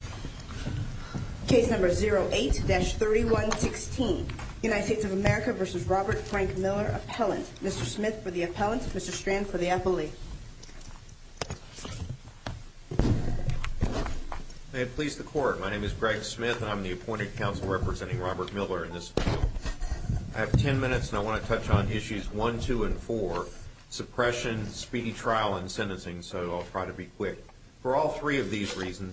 Appellant. Mr. Smith for the Appellant, Mr. Strand for the Appellee. May it please the Court, my name is Greg Smith and I'm the appointed counsel representing Robert Miller in this case. I have 10 minutes and I want to touch on Issues 1, 2, and 4, Suppression, Speedy Trial, and Sentencing, so I'll try to be quick. For all three of them,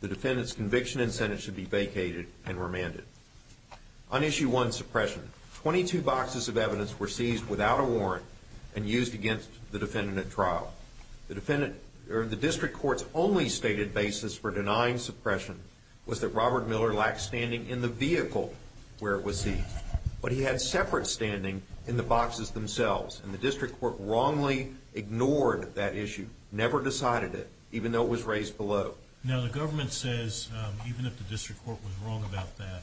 the defendant's conviction and sentence should be vacated and remanded. On Issue 1, Suppression, 22 boxes of evidence were seized without a warrant and used against the defendant at trial. The district court's only stated basis for denying suppression was that Robert Miller lacked standing in the vehicle where it was seized, but he had separate standing in the boxes themselves, and the district court wrongly ignored that issue, never decided it, even though it was raised below. Now the government says, even if the district court was wrong about that,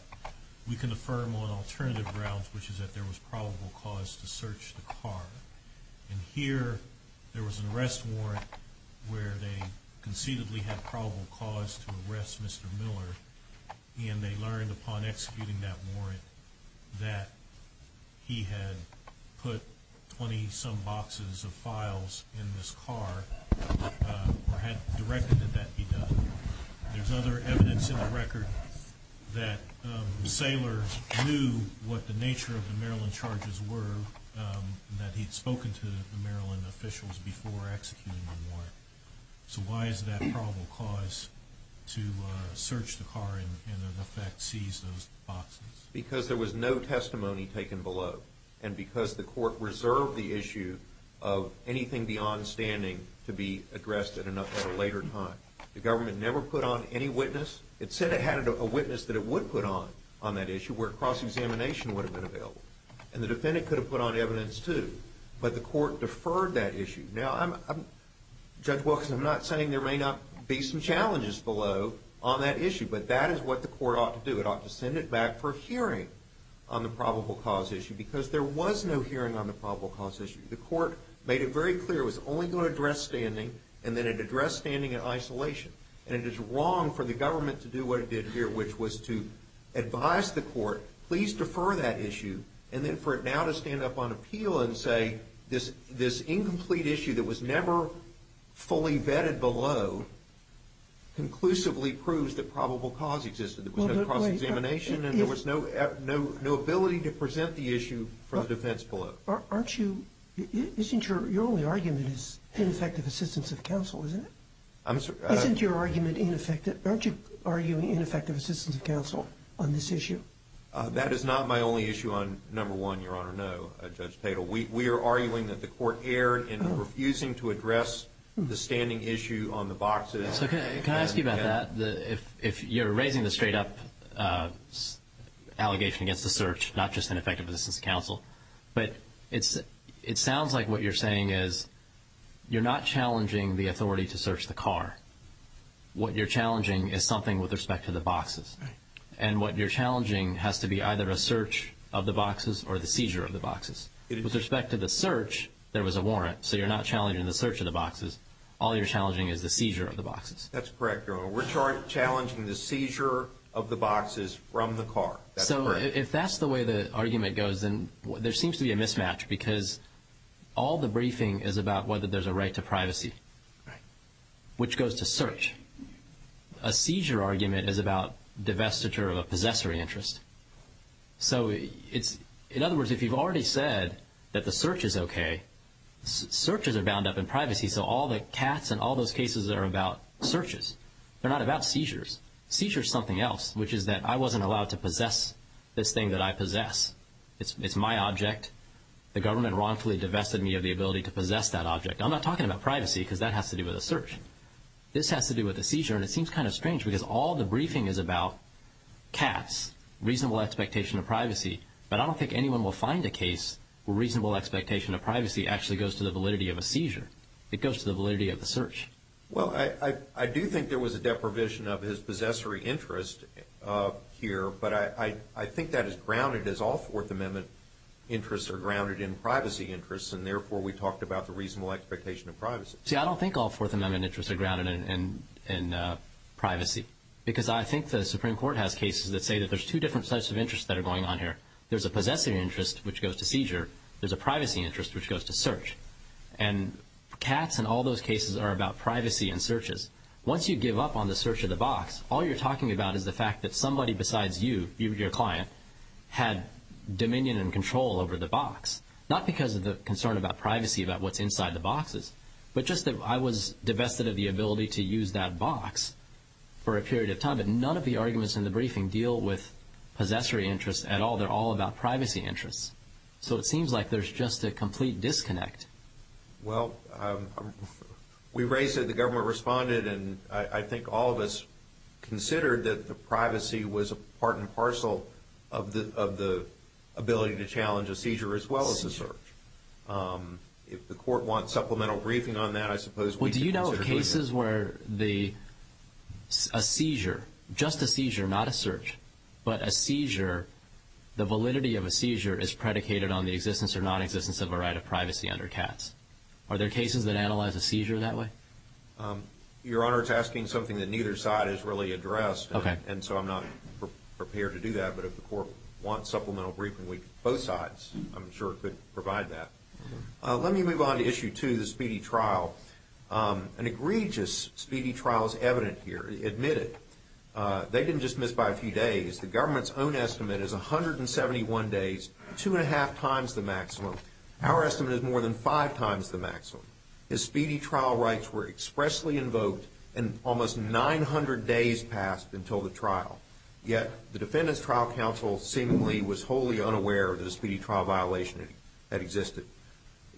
we can affirm on alternative grounds, which is that there was probable cause to search the car. And here, there was an arrest warrant where they conceitedly had probable cause to arrest Mr. Miller, and they learned upon executing that there was probable cause to search the car and, in effect, seize those boxes. Because there was no testimony taken below, and because the court reserved the issue of Mr. Miller anything beyond standing to be addressed at a later time. The government never put on any witness. It said it had a witness that it would put on on that issue where cross-examination would have been available. And the defendant could have put on evidence too, but the court deferred that issue. Now, Judge Wilkins, I'm not saying there may not be some challenges below on that issue, but that is what the court ought to do. It ought to send it back for a hearing on the probable cause issue, because there was no hearing on the probable cause issue. The court made it very clear it was only going to address standing, and then it addressed standing in isolation. And it is wrong for the government to do what it did here, which was to advise the court, please defer that issue, and then for it now to stand up on appeal and say this incomplete issue that was never fully vetted below conclusively proves that probable cause existed. There was no cross-examination, and there was no ability to present the issue for the defense below. Aren't you, isn't your, your only argument is ineffective assistance of counsel, isn't it? I'm sorry. Isn't your argument ineffective, aren't you arguing ineffective assistance of counsel on this issue? That is not my only issue on number one, Your Honor, no, Judge Tatel. We are arguing that the court erred in refusing to address the standing issue on the boxes. So can I ask you about that? If you're raising the straight-up allegation against the search, not just ineffective assistance of counsel, but it sounds like what you're saying is you're not challenging the authority to search the car. What you're challenging is something with respect to the boxes. And what you're challenging has to be either a search of the boxes or the seizure of the boxes. With respect to the search, there was a warrant, so you're not challenging the search of the boxes. All you're challenging is the seizure of the boxes. That's correct, Your Honor. We're challenging the seizure of the boxes from the car. So if that's the way the argument goes, then there seems to be a mismatch because all the briefing is about whether there's a right to privacy, which goes to search. A seizure argument is about divestiture of a possessory interest. So it's, in other words, if you've already said that the search is okay, searches are bound up in privacy, so all the cats and all those cases are about searches. They're not about seizures. Seizure is something else, which is that I wasn't allowed to possess this thing that I possess. It's my object. The government wrongfully divested me of the ability to possess that object. I'm not talking about privacy because that has to do with a search. This has to do with a seizure, and it seems kind of strange because all the briefing is about cats, reasonable expectation of privacy, but I don't think anyone will find a case where it goes to the validity of the search. Well, I do think there was a deprivation of his possessory interest here, but I think that is grounded as all Fourth Amendment interests are grounded in privacy interests, and therefore we talked about the reasonable expectation of privacy. See, I don't think all Fourth Amendment interests are grounded in privacy because I think the Supreme Court has cases that say that there's two different sets of interests that are going on here. There's a possessive interest, which goes to seizure. There's a about privacy in searches. Once you give up on the search of the box, all you're talking about is the fact that somebody besides you, your client, had dominion and control over the box, not because of the concern about privacy about what's inside the boxes, but just that I was divested of the ability to use that box for a period of time, but none of the arguments in the briefing deal with possessory interests at all. They're all about privacy interests, so it seems like there's just a complete disconnect. Well, we raised it, the government responded, and I think all of us considered that the privacy was a part and parcel of the ability to challenge a seizure as well as a search. Seizure. If the court wants supplemental briefing on that, I suppose we could consider doing that. Well, do you know of cases where a seizure, just a seizure, not a search, but a seizure, the validity of a seizure is predicated on the existence or nonexistence of a right of pass? Are there cases that analyze a seizure that way? Your Honor, it's asking something that neither side has really addressed, and so I'm not prepared to do that, but if the court wants supplemental briefing, both sides, I'm sure, could provide that. Let me move on to issue two, the speedy trial. An egregious speedy trial is evident here, admitted. They didn't just miss by a few days. The government's own estimate is 171 days, two and a half times the maximum. Our estimate is more than five times the maximum. The speedy trial rights were expressly invoked and almost 900 days passed until the trial, yet the defendant's trial counsel seemingly was wholly unaware that a speedy trial violation had existed.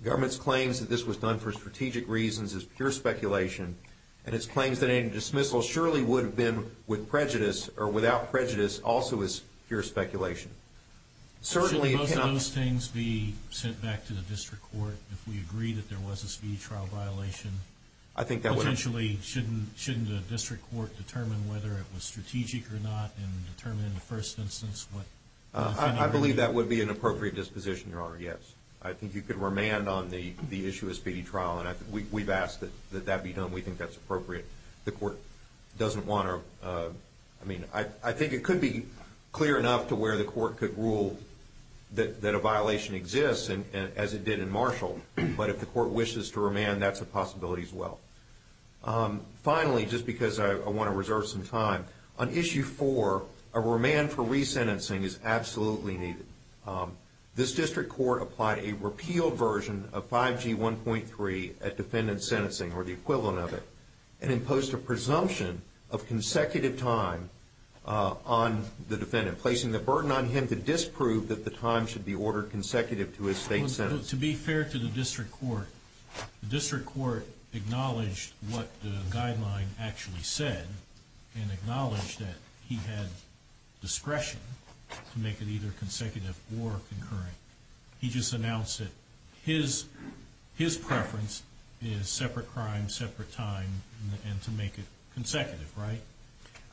The government's claims that this was done for strategic reasons is pure speculation, and its claims that any dismissal surely would have been with prejudice or without Can both of those things be sent back to the district court if we agree that there was a speedy trial violation? I think that would Potentially, shouldn't the district court determine whether it was strategic or not and determine in the first instance what the defendant agreed? I believe that would be an appropriate disposition, Your Honor, yes. I think you could remand on the issue of speedy trial, and I think we've asked that that be done. We think that's appropriate. The court doesn't want to, I mean, I think it could be clear enough to where the court could rule that a violation exists as it did in Marshall, but if the court wishes to remand, that's a possibility as well. Finally, just because I want to reserve some time, on Issue 4, a remand for resentencing is absolutely needed. This district court applied a repealed version of 5G 1.3 at defendant sentencing, or the equivalent of it, and imposed a presumption of consecutive time on the defendant. Is it important on him to disprove that the time should be ordered consecutive to his state sentence? To be fair to the district court, the district court acknowledged what the guideline actually said and acknowledged that he had discretion to make it either consecutive or concurrent. He just announced that his preference is separate crime, separate time, and to make it consecutive, right?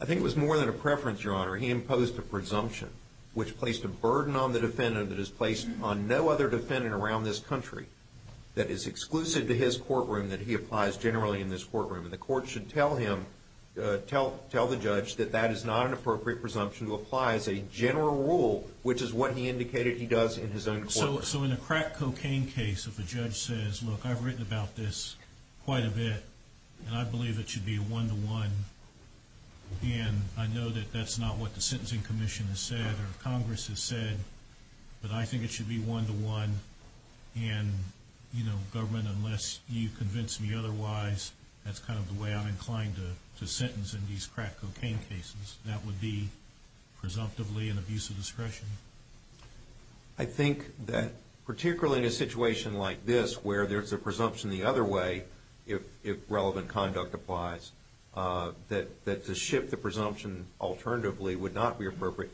I think it was more than a preference, Your Honor. He imposed a presumption, which placed a burden on the defendant that is placed on no other defendant around this country that is exclusive to his courtroom that he applies generally in this courtroom. And the court should tell him, tell the judge, that that is not an appropriate presumption to apply as a general rule, which is what he indicated he does in his own courtroom. So in a crack cocaine case, if a judge says, look, I've written about this quite a bit, and I believe it should be a one-to-one, and I know that that's not what the Sentencing Commission has said or Congress has said, but I think it should be one-to-one, and, you know, government, unless you convince me otherwise, that's kind of the way I'm inclined to sentence in these crack cocaine cases. That would be presumptively an abuse of discretion. I think that particularly in a situation like this where there's a presumption the other way, if relevant conduct applies, that to shift the presumption alternatively would not be appropriate.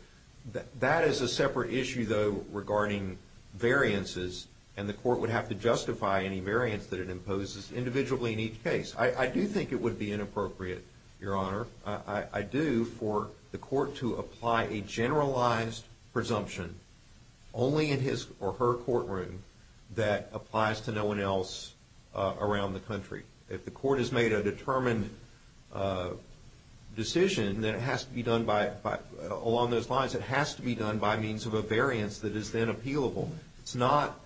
That is a separate issue, though, regarding variances, and the court would have to justify any variance that it imposes individually in each case. I do think it would be inappropriate, Your Honor. I do, for the court to apply a generalized presumption only in his or her courtroom that applies to no one else around the country. If the court has made a determined decision that it has to be done along those lines, it has to be done by means of a variance that is then appealable. It's not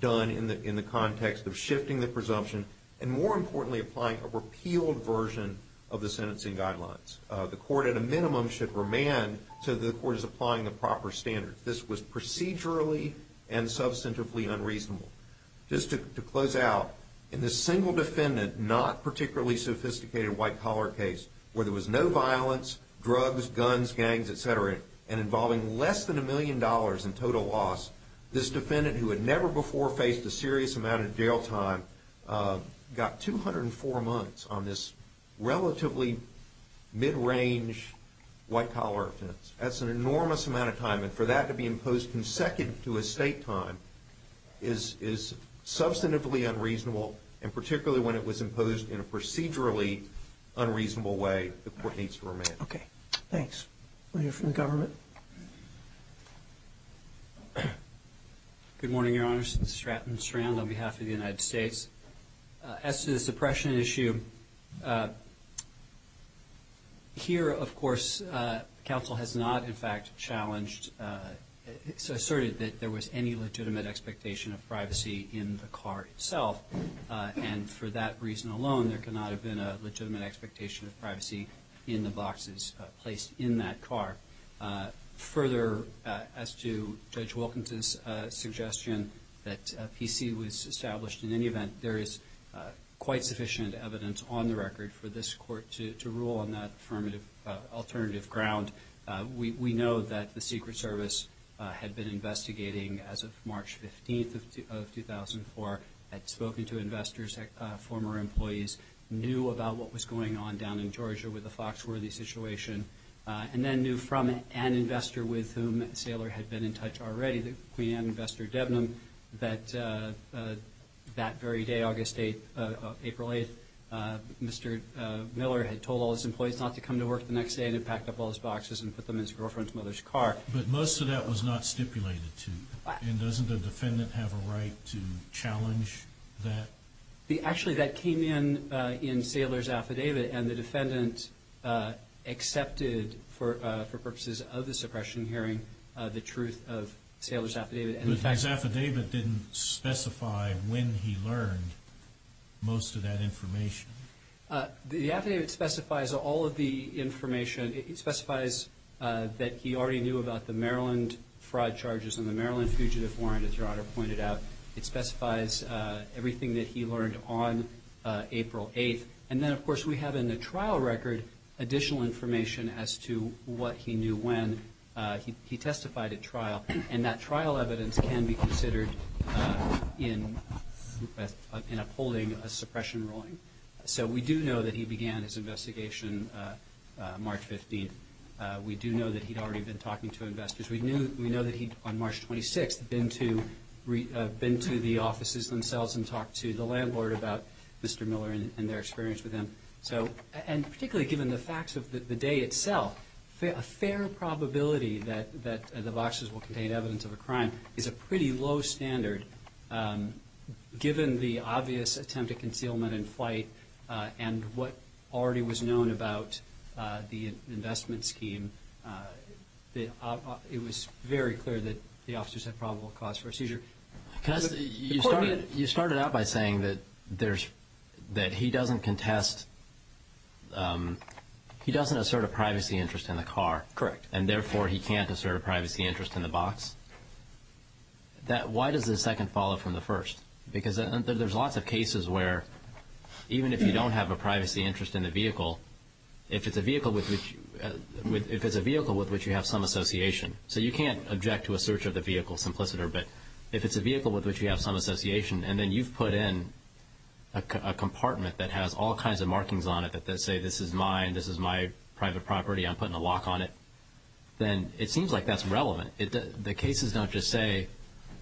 done in the context of shifting the presumption and, more importantly, applying a repealed version of the sentencing guidelines. The court, at a minimum, should remand so that the court is applying the proper standards. This was procedurally and substantively unreasonable. Just to close out, in this single defendant, not particularly sophisticated white-collar case, where there was no violence, drugs, guns, gangs, et cetera, and involving less than a million dollars in total loss, this defendant who had never before faced a serious amount of jail time got 204 months on this relatively mid-range white-collar offense. That's an enormous amount of time, and for that to be imposed consecutive to his state time is substantively unreasonable, and particularly when it was imposed in a procedurally unreasonable way, the court needs to remand. Okay. Thanks. We'll hear from the government. Good morning, Your Honors. This is Stratton Strand on behalf of the United States. As to the suppression issue, here, of course, counsel has not, in fact, challenged, asserted that there was any legitimate expectation of privacy in the car itself, and for that reason alone, there cannot have been a legitimate expectation of privacy in the boxes placed in that car. Further, as to Judge Wilkinson's suggestion that PC was established, in any event, there is quite sufficient evidence on the record for this court to rule on that affirmative alternative ground. We know that the Secret Service had been investigating as of March 15th of 2004, had spoken to investors, former employees, knew about what was going on down in Georgia with the Foxworthy situation, and then knew from an investor with whom Saylor had been in touch already, the Queen Anne investor, Debnam, that that very day, August 8th, April 8th, Mr. Miller had told all his employees not to come to work the next day and had packed up all his boxes and put them in his girlfriend's mother's car. But most of that was not stipulated to you, and doesn't the defendant have a right to challenge that? Actually, that came in in Saylor's affidavit, and the defendant accepted, for purposes of the suppression hearing, the truth of Saylor's affidavit. But his affidavit didn't specify when he learned most of that information. The affidavit specifies all of the information. It specifies that he already knew about the Maryland fraud charges and the Maryland fugitive warrant, as Your Honor pointed out. It specifies everything that he learned on April 8th. And then, of course, we have in the trial record additional information as to what he knew when he testified at trial, and that trial evidence can be considered in upholding a suppression ruling. So we do know that he began his investigation March 15th. We do know that he'd already been talking to investors. We know that he, on March 26th, had been to the offices themselves and talked to the landlord about Mr. Miller and their experience with him. And particularly given the facts of the day itself, a fair probability that the boxes will contain evidence of a crime is a pretty low standard, given the obvious attempt at it was very clear that the officers had probable cause for a seizure. You started out by saying that he doesn't contest, he doesn't assert a privacy interest in the car. Correct. And therefore, he can't assert a privacy interest in the box. Why does the second follow from the first? Because there's lots of cases where even if you don't have a privacy interest in the vehicle, if it's a vehicle with which you have some association. So you can't object to a search of the vehicle, simpliciter, but if it's a vehicle with which you have some association, and then you've put in a compartment that has all kinds of markings on it that say, this is mine, this is my private property, I'm putting a lock on it, then it seems like that's relevant. The cases don't just say,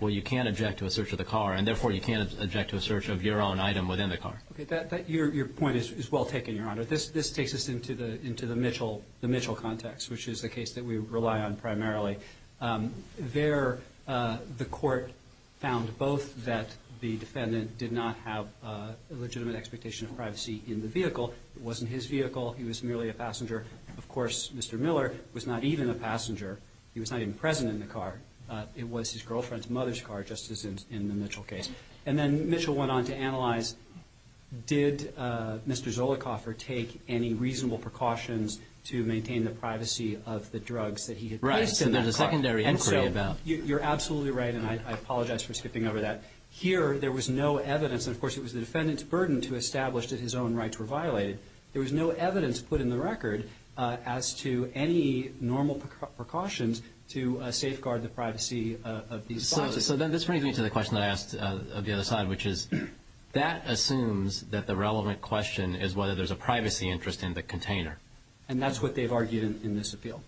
well, you can't object to a search of the car, and therefore you can't object to a search of your own item within the car. Okay. Your point is well taken, Your Honor. This takes us into the Mitchell context, which is the case that we rely on primarily. There, the court found both that the defendant did not have a legitimate expectation of privacy in the vehicle. It wasn't his vehicle. He was merely a passenger. Of course, Mr. Miller was not even a passenger. He was not even present in the car. It was his girlfriend's mother's car, just as in the Mitchell case. And then Mitchell went on to analyze, did Mr. Zollicoffer take any reasonable precautions to maintain the privacy of the drugs that he had placed in that car? Right. So there's a secondary inquiry about it. You're absolutely right, and I apologize for skipping over that. Here, there was no evidence, and of course it was the defendant's burden to establish that his own rights were violated. There was no evidence put in the record as to any normal precautions to safeguard the privacy of these devices. So then this brings me to the question that I asked of the other side, which is, that assumes that the relevant question is whether there's a privacy interest in the container. And that's what they've argued in this appeal.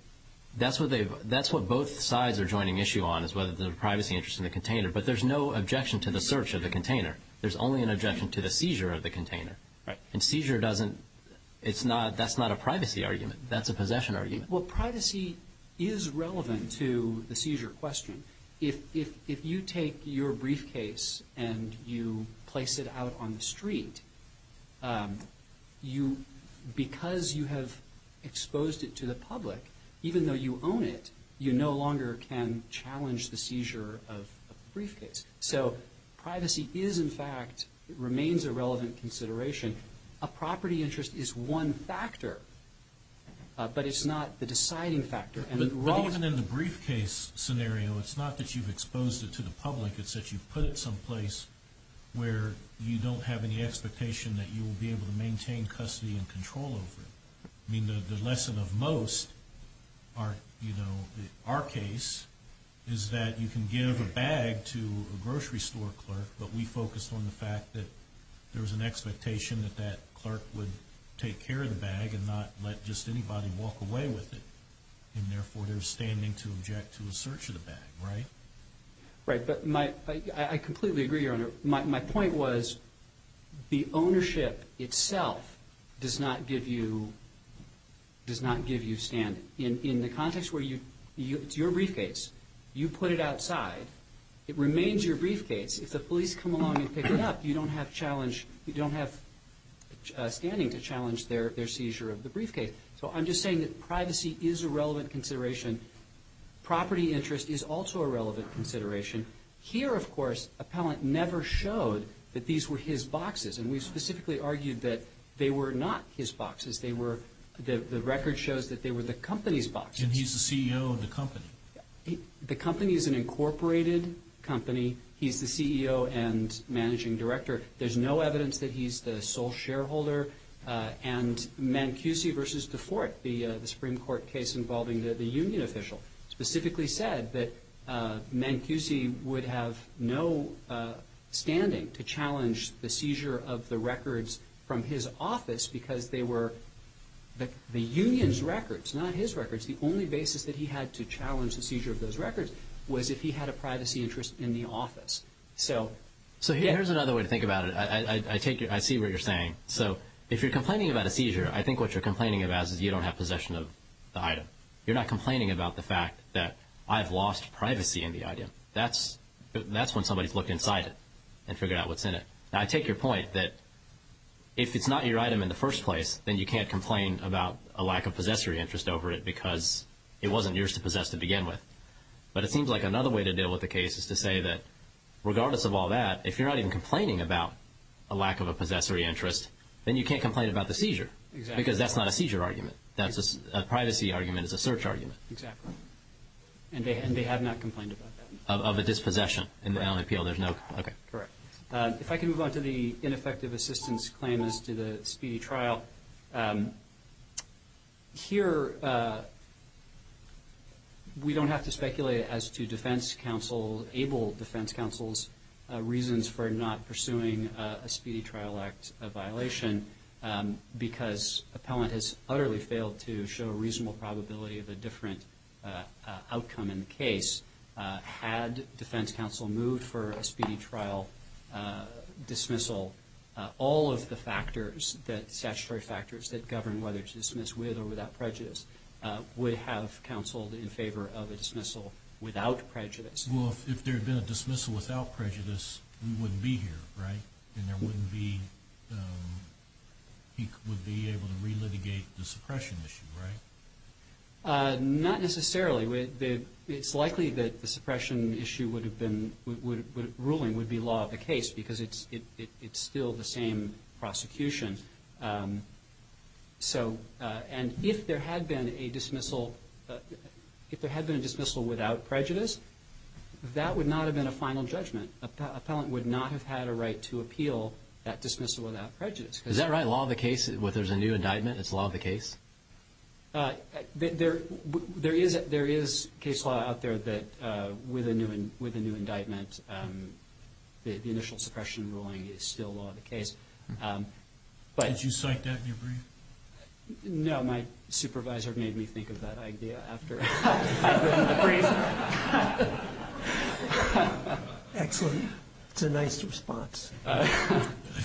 That's what both sides are joining issue on, is whether there's a privacy interest in the container. But there's no objection to the search of the container. There's only an objection to the seizure of the container. Right. And seizure doesn't – that's not a privacy argument. That's a possession argument. Well, privacy is relevant to the seizure question. If you take your briefcase and you place it out on the street, because you have exposed it to the public, even though you own it, you no longer can challenge the seizure of the briefcase. So privacy is, in fact – remains a relevant consideration. A property interest is one factor, but it's not the deciding factor. But even in the briefcase scenario, it's not that you've exposed it to the public. It's that you've put it someplace where you don't have any expectation that you will be able to maintain custody and control over it. I mean, the lesson of most, you know, our case, is that you can give a bag to a grocery store clerk, but we focused on the fact that there was an expectation that that clerk would take care of the bag and not let just anybody walk away with it and therefore they're standing to object to a search of the bag, right? Right, but my – I completely agree, Your Honor. My point was the ownership itself does not give you – does not give you standing. In the context where you – it's your briefcase. You put it outside. It remains your briefcase. If the police come along and pick it up, you don't have challenge – you don't have standing to challenge their seizure of the briefcase. So I'm just saying that privacy is a relevant consideration. Property interest is also a relevant consideration. Here, of course, Appellant never showed that these were his boxes, and we specifically argued that they were not his boxes. They were – the record shows that they were the company's boxes. And he's the CEO of the company. The company is an incorporated company. He's the CEO and managing director. There's no evidence that he's the sole shareholder. And Mancusi v. DeForte, the Supreme Court case involving the union official, specifically said that Mancusi would have no standing to challenge the seizure of the records from his office because they were the union's records, not his records. The only basis that he had to challenge the seizure of those records was if he had a privacy interest in the office. So here's another way to think about it. I see what you're saying. So if you're complaining about a seizure, I think what you're complaining about is you don't have possession of the item. You're not complaining about the fact that I've lost privacy in the item. That's when somebody's looked inside it and figured out what's in it. Now, I take your point that if it's not your item in the first place, then you can't complain about a lack of possessory interest over it because it wasn't yours to possess to begin with. But it seems like another way to deal with the case is to say that, if you're not even complaining about a lack of a possessory interest, then you can't complain about the seizure because that's not a seizure argument. That's a privacy argument. It's a search argument. Exactly. And they have not complained about that. Of a dispossession. Right. Okay. Correct. If I can move on to the ineffective assistance claim as to the speedy trial. Now, here we don't have to speculate as to defense counsel, able defense counsel's reasons for not pursuing a speedy trial act violation because appellant has utterly failed to show a reasonable probability of a different outcome in the case. Had defense counsel moved for a speedy trial dismissal, all of the statutory factors that govern whether to dismiss with or without prejudice would have counseled in favor of a dismissal without prejudice. Well, if there had been a dismissal without prejudice, we wouldn't be here, right? And he would be able to relitigate the suppression issue, right? Not necessarily. It's likely that the suppression ruling would be law of the case because it's still the same prosecution. And if there had been a dismissal without prejudice, that would not have been a final judgment. Appellant would not have had a right to appeal that dismissal without prejudice. Is that right? Law of the case where there's a new indictment is law of the case? There is case law out there that with a new indictment, the initial suppression ruling is still law of the case. Did you cite that in your brief? No. My supervisor made me think of that idea after I put it in the brief. Excellent. It's a nice response.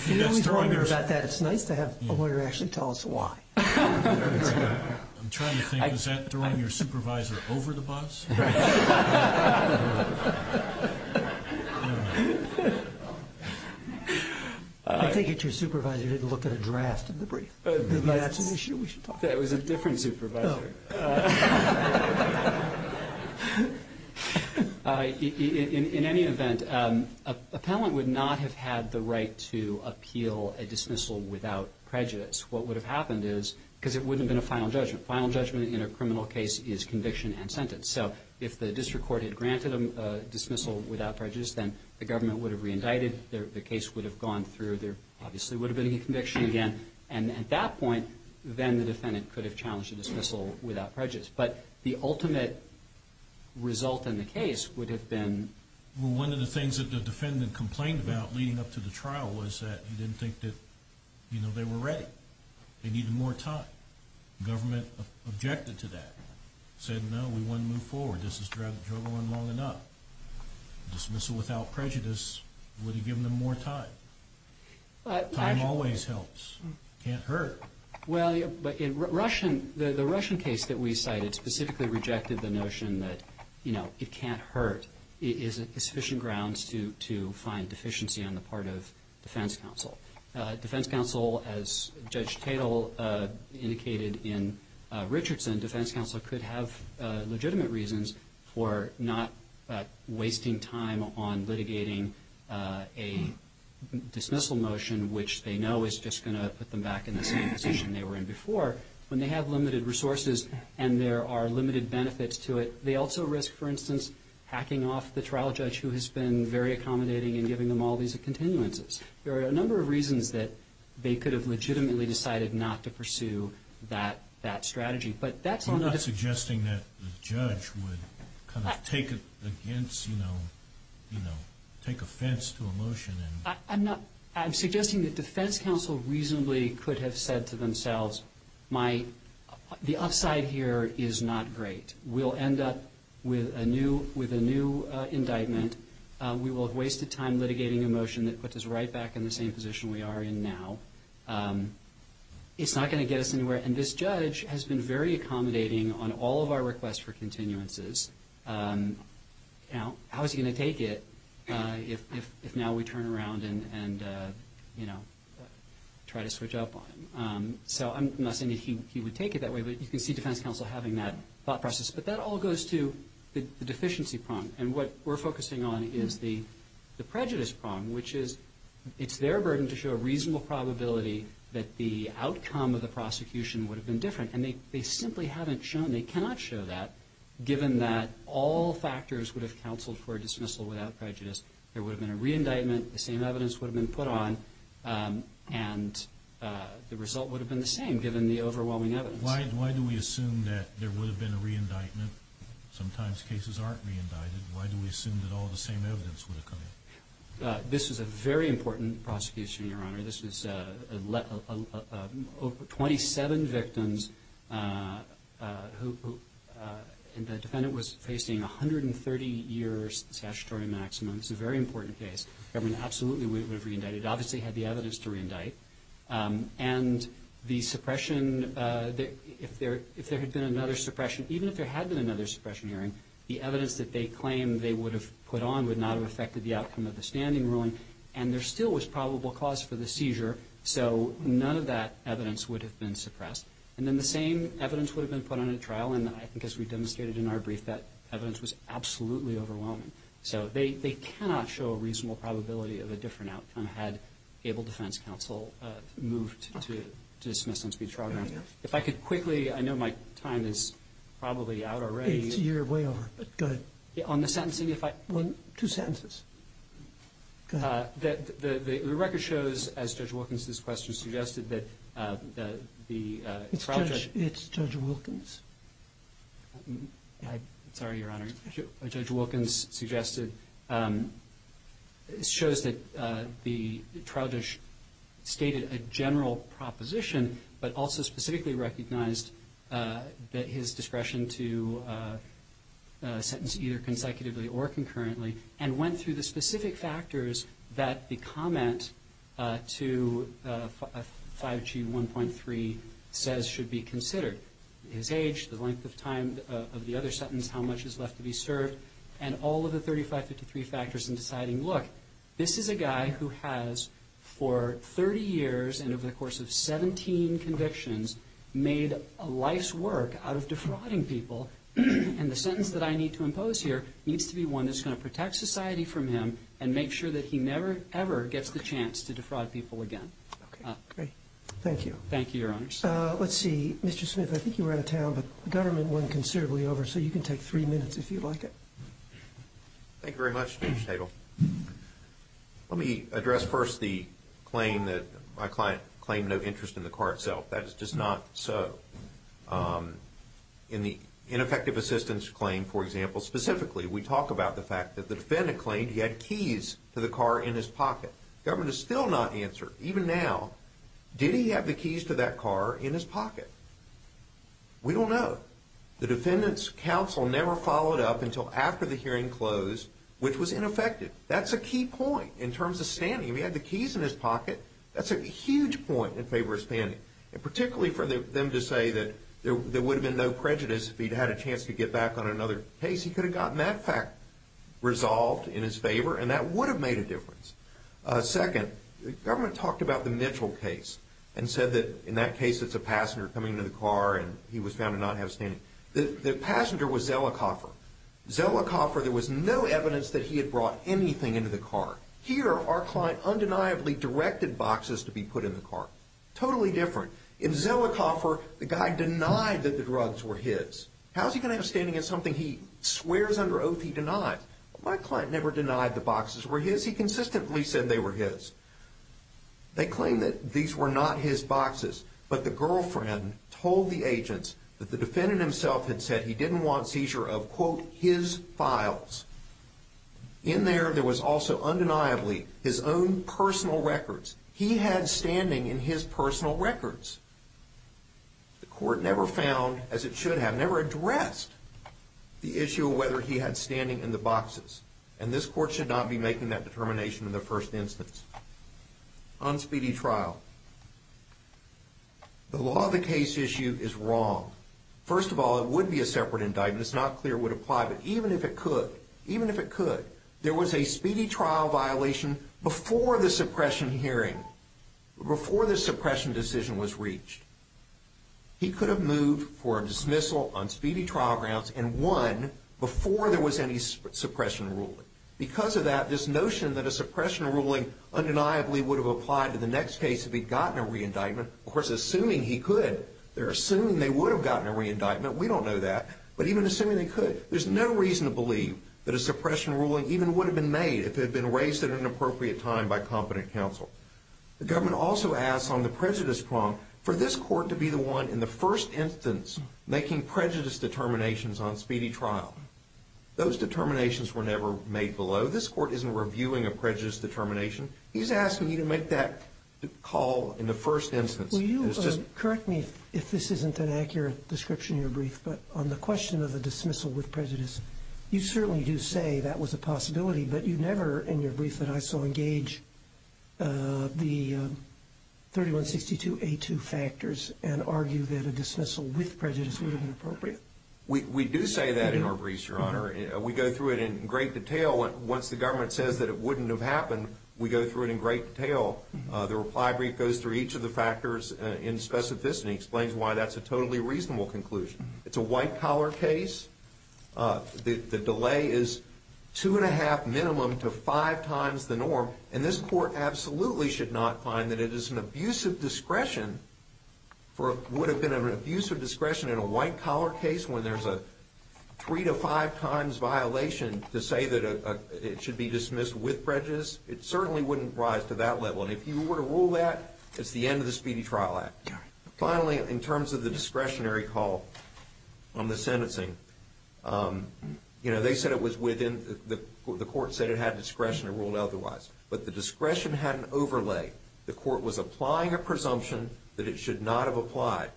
You always wonder about that. It's nice to have a lawyer actually tell us why. I'm trying to think. Was that throwing your supervisor over the bus? I think it's your supervisor who didn't look at a draft of the brief. That was a different supervisor. In any event, appellant would not have had the right to appeal a dismissal without prejudice. What would have happened is, because it wouldn't have been a final judgment, final judgment in a criminal case is conviction and sentence. So if the district court had granted a dismissal without prejudice, then the government would have re-indicted. The case would have gone through. There obviously would have been a conviction again. At that point, then the defendant could have challenged a dismissal without prejudice. But the ultimate result in the case would have been... One of the things that the defendant complained about leading up to the trial was that he didn't think that they were ready. They needed more time. Government objected to that. Said, no, we want to move forward. This has dragged on long enough. A dismissal without prejudice would have given them more time. Time always helps. It can't hurt. The Russian case that we cited specifically rejected the notion that it can't hurt. It isn't sufficient grounds to find deficiency on the part of defense counsel. Defense counsel, as Judge Tatel indicated in Richardson, defense counsel could have legitimate reasons for not wasting time on litigating a dismissal motion, which they know is just going to put them back in the same position they were in before. When they have limited resources and there are limited benefits to it, they also risk, for instance, hacking off the trial judge who has been very accommodating in giving them all these continuances. There are a number of reasons that they could have legitimately decided not to pursue that strategy. You're not suggesting that the judge would take offense to a motion? I'm suggesting that defense counsel reasonably could have said to themselves, the upside here is not great. We'll end up with a new indictment. We will have wasted time litigating a motion that puts us right back in the same position we are in now. It's not going to get us anywhere. This judge has been very accommodating on all of our requests for continuances. How is he going to take it if now we turn around and try to switch up on him? I'm not saying that he would take it that way, but you can see defense counsel having that thought process. But that all goes to the deficiency prong, and what we're focusing on is the prejudice prong, which is it's their burden to show a reasonable probability that the outcome of the prosecution would have been different, and they simply haven't shown, they cannot show that, given that all factors would have counseled for a dismissal without prejudice. There would have been a re-indictment. The same evidence would have been put on, and the result would have been the same given the overwhelming evidence. Why do we assume that there would have been a re-indictment? Sometimes cases aren't re-indicted. Why do we assume that all the same evidence would have come in? This is a very important prosecution, Your Honor. This was 27 victims, and the defendant was facing a 130-year statutory maximum. This is a very important case. The government absolutely would have re-indicted. It obviously had the evidence to re-indict. And the suppression, if there had been another suppression, even if there had been another suppression hearing, the evidence that they claimed they would have put on would not have affected the outcome of the standing ruling, and there still was probable cause for the seizure, so none of that evidence would have been suppressed. And then the same evidence would have been put on at trial, and I think as we demonstrated in our brief, that evidence was absolutely overwhelming. So they cannot show a reasonable probability of a different outcome had Able Defense Counsel moved to dismiss them to be trial grounds. If I could quickly, I know my time is probably out already. It's your way over. Go ahead. On the sentencing, if I could. Two sentences. Go ahead. The record shows, as Judge Wilkins's question suggested, that the trial judge It's Judge Wilkins. Sorry, Your Honor. Judge Wilkins suggested, shows that the trial judge stated a general proposition but also specifically recognized that his discretion to sentence either consecutively or concurrently and went through the specific factors that the comment to 5G 1.3 says should be considered, his age, the length of time of the other sentence, how much is left to be served, and all of the 35-53 factors in deciding, look, this is a guy who has for 30 years and over the course of 17 convictions made a life's work out of defrauding people, and the sentence that I need to impose here needs to be one that's going to protect society from him and make sure that he never, ever gets the chance to defraud people again. Okay, great. Thank you. Thank you, Your Honors. Let's see. Mr. Smith, I think you were out of town, but the government went considerably over, so you can take three minutes if you'd like it. Thank you very much, Judge Tegel. Let me address first the claim that my client claimed no interest in the car itself. That is just not so. In the ineffective assistance claim, for example, specifically, we talk about the fact that the defendant claimed he had keys to the car in his pocket. The government has still not answered, even now, did he have the keys to that car in his pocket? We don't know. The defendant's counsel never followed up until after the hearing closed, which was ineffective. That's a key point in terms of standing. If he had the keys in his pocket, that's a huge point in favor of standing, and particularly for them to say that there would have been no prejudice if he'd had a chance to get back on another case. He could have gotten that fact resolved in his favor, and that would have made a difference. Second, the government talked about the Mitchell case and said that in that case it's a passenger coming into the car, and he was found to not have standing. The passenger was Zelikoffer. Zelikoffer, there was no evidence that he had brought anything into the car. Here, our client undeniably directed boxes to be put in the car. Totally different. In Zelikoffer, the guy denied that the drugs were his. How is he going to have standing in something he swears under oath he denied? My client never denied the boxes were his. He consistently said they were his. They claimed that these were not his boxes, but the girlfriend told the agents that the defendant himself had said he didn't want seizure of, quote, his files. In there, there was also undeniably his own personal records. He had standing in his personal records. The court never found, as it should have, never addressed the issue of whether he had standing in the boxes, and this court should not be making that determination in the first instance. On speedy trial, the law of the case issue is wrong. First of all, it would be a separate indictment. It's not clear it would apply, but even if it could, even if it could, there was a speedy trial violation before the suppression hearing, before the suppression decision was reached. He could have moved for a dismissal on speedy trial grounds and won before there was any suppression ruling. Because of that, this notion that a suppression ruling undeniably would have applied to the next case if he'd gotten a reindictment, of course, assuming he could. They're assuming they would have gotten a reindictment. We don't know that, but even assuming they could, there's no reason to believe that a suppression ruling even would have been made if it had been raised at an appropriate time by competent counsel. The government also asks on the prejudice prompt for this court to be the one in the first instance making prejudice determinations on speedy trial. Those determinations were never made below. This court isn't reviewing a prejudice determination. He's asking you to make that call in the first instance. Will you correct me if this isn't an accurate description in your brief, but on the question of a dismissal with prejudice, you certainly do say that was a possibility, but you never in your brief that I saw engage the 3162A2 factors and argue that a dismissal with prejudice would have been appropriate. We do say that in our briefs, Your Honor. We go through it in great detail. Once the government says that it wouldn't have happened, we go through it in great detail. The reply brief goes through each of the factors in specificity and explains why that's a totally reasonable conclusion. It's a white-collar case. The delay is two and a half minimum to five times the norm, and this court absolutely should not find that it is an abuse of discretion for what would have been an abuse of discretion in a white-collar case when there's a three to five times violation to say that it should be dismissed with prejudice. It certainly wouldn't rise to that level, and if you were to rule that, it's the end of the Speedy Trial Act. Finally, in terms of the discretionary call on the sentencing, they said it was within the court said it had discretion to rule otherwise, but the discretion had an overlay. The court was applying a presumption that it should not have applied.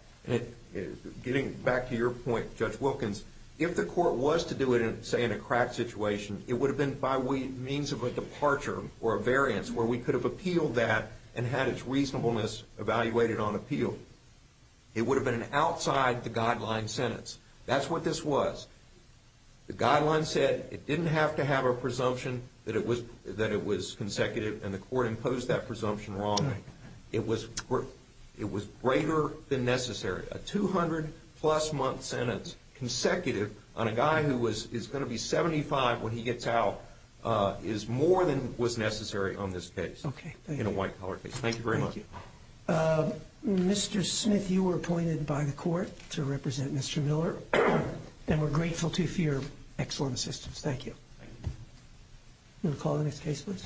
Getting back to your point, Judge Wilkins, if the court was to do it, say, in a crack situation, it would have been by means of a departure or a variance where we could have appealed that and had its reasonableness evaluated on appeal. It would have been an outside-the-guideline sentence. That's what this was. The guideline said it didn't have to have a presumption that it was consecutive, and the court imposed that presumption wrongly. It was greater than necessary. A 200-plus-month sentence consecutive on a guy who is going to be 75 when he gets out is more than was necessary on this case in a white-collar case. Thank you very much. Thank you. Mr. Smith, you were appointed by the court to represent Mr. Miller, and we're grateful to you for your excellent assistance. Thank you. Thank you. We'll call the next case, please.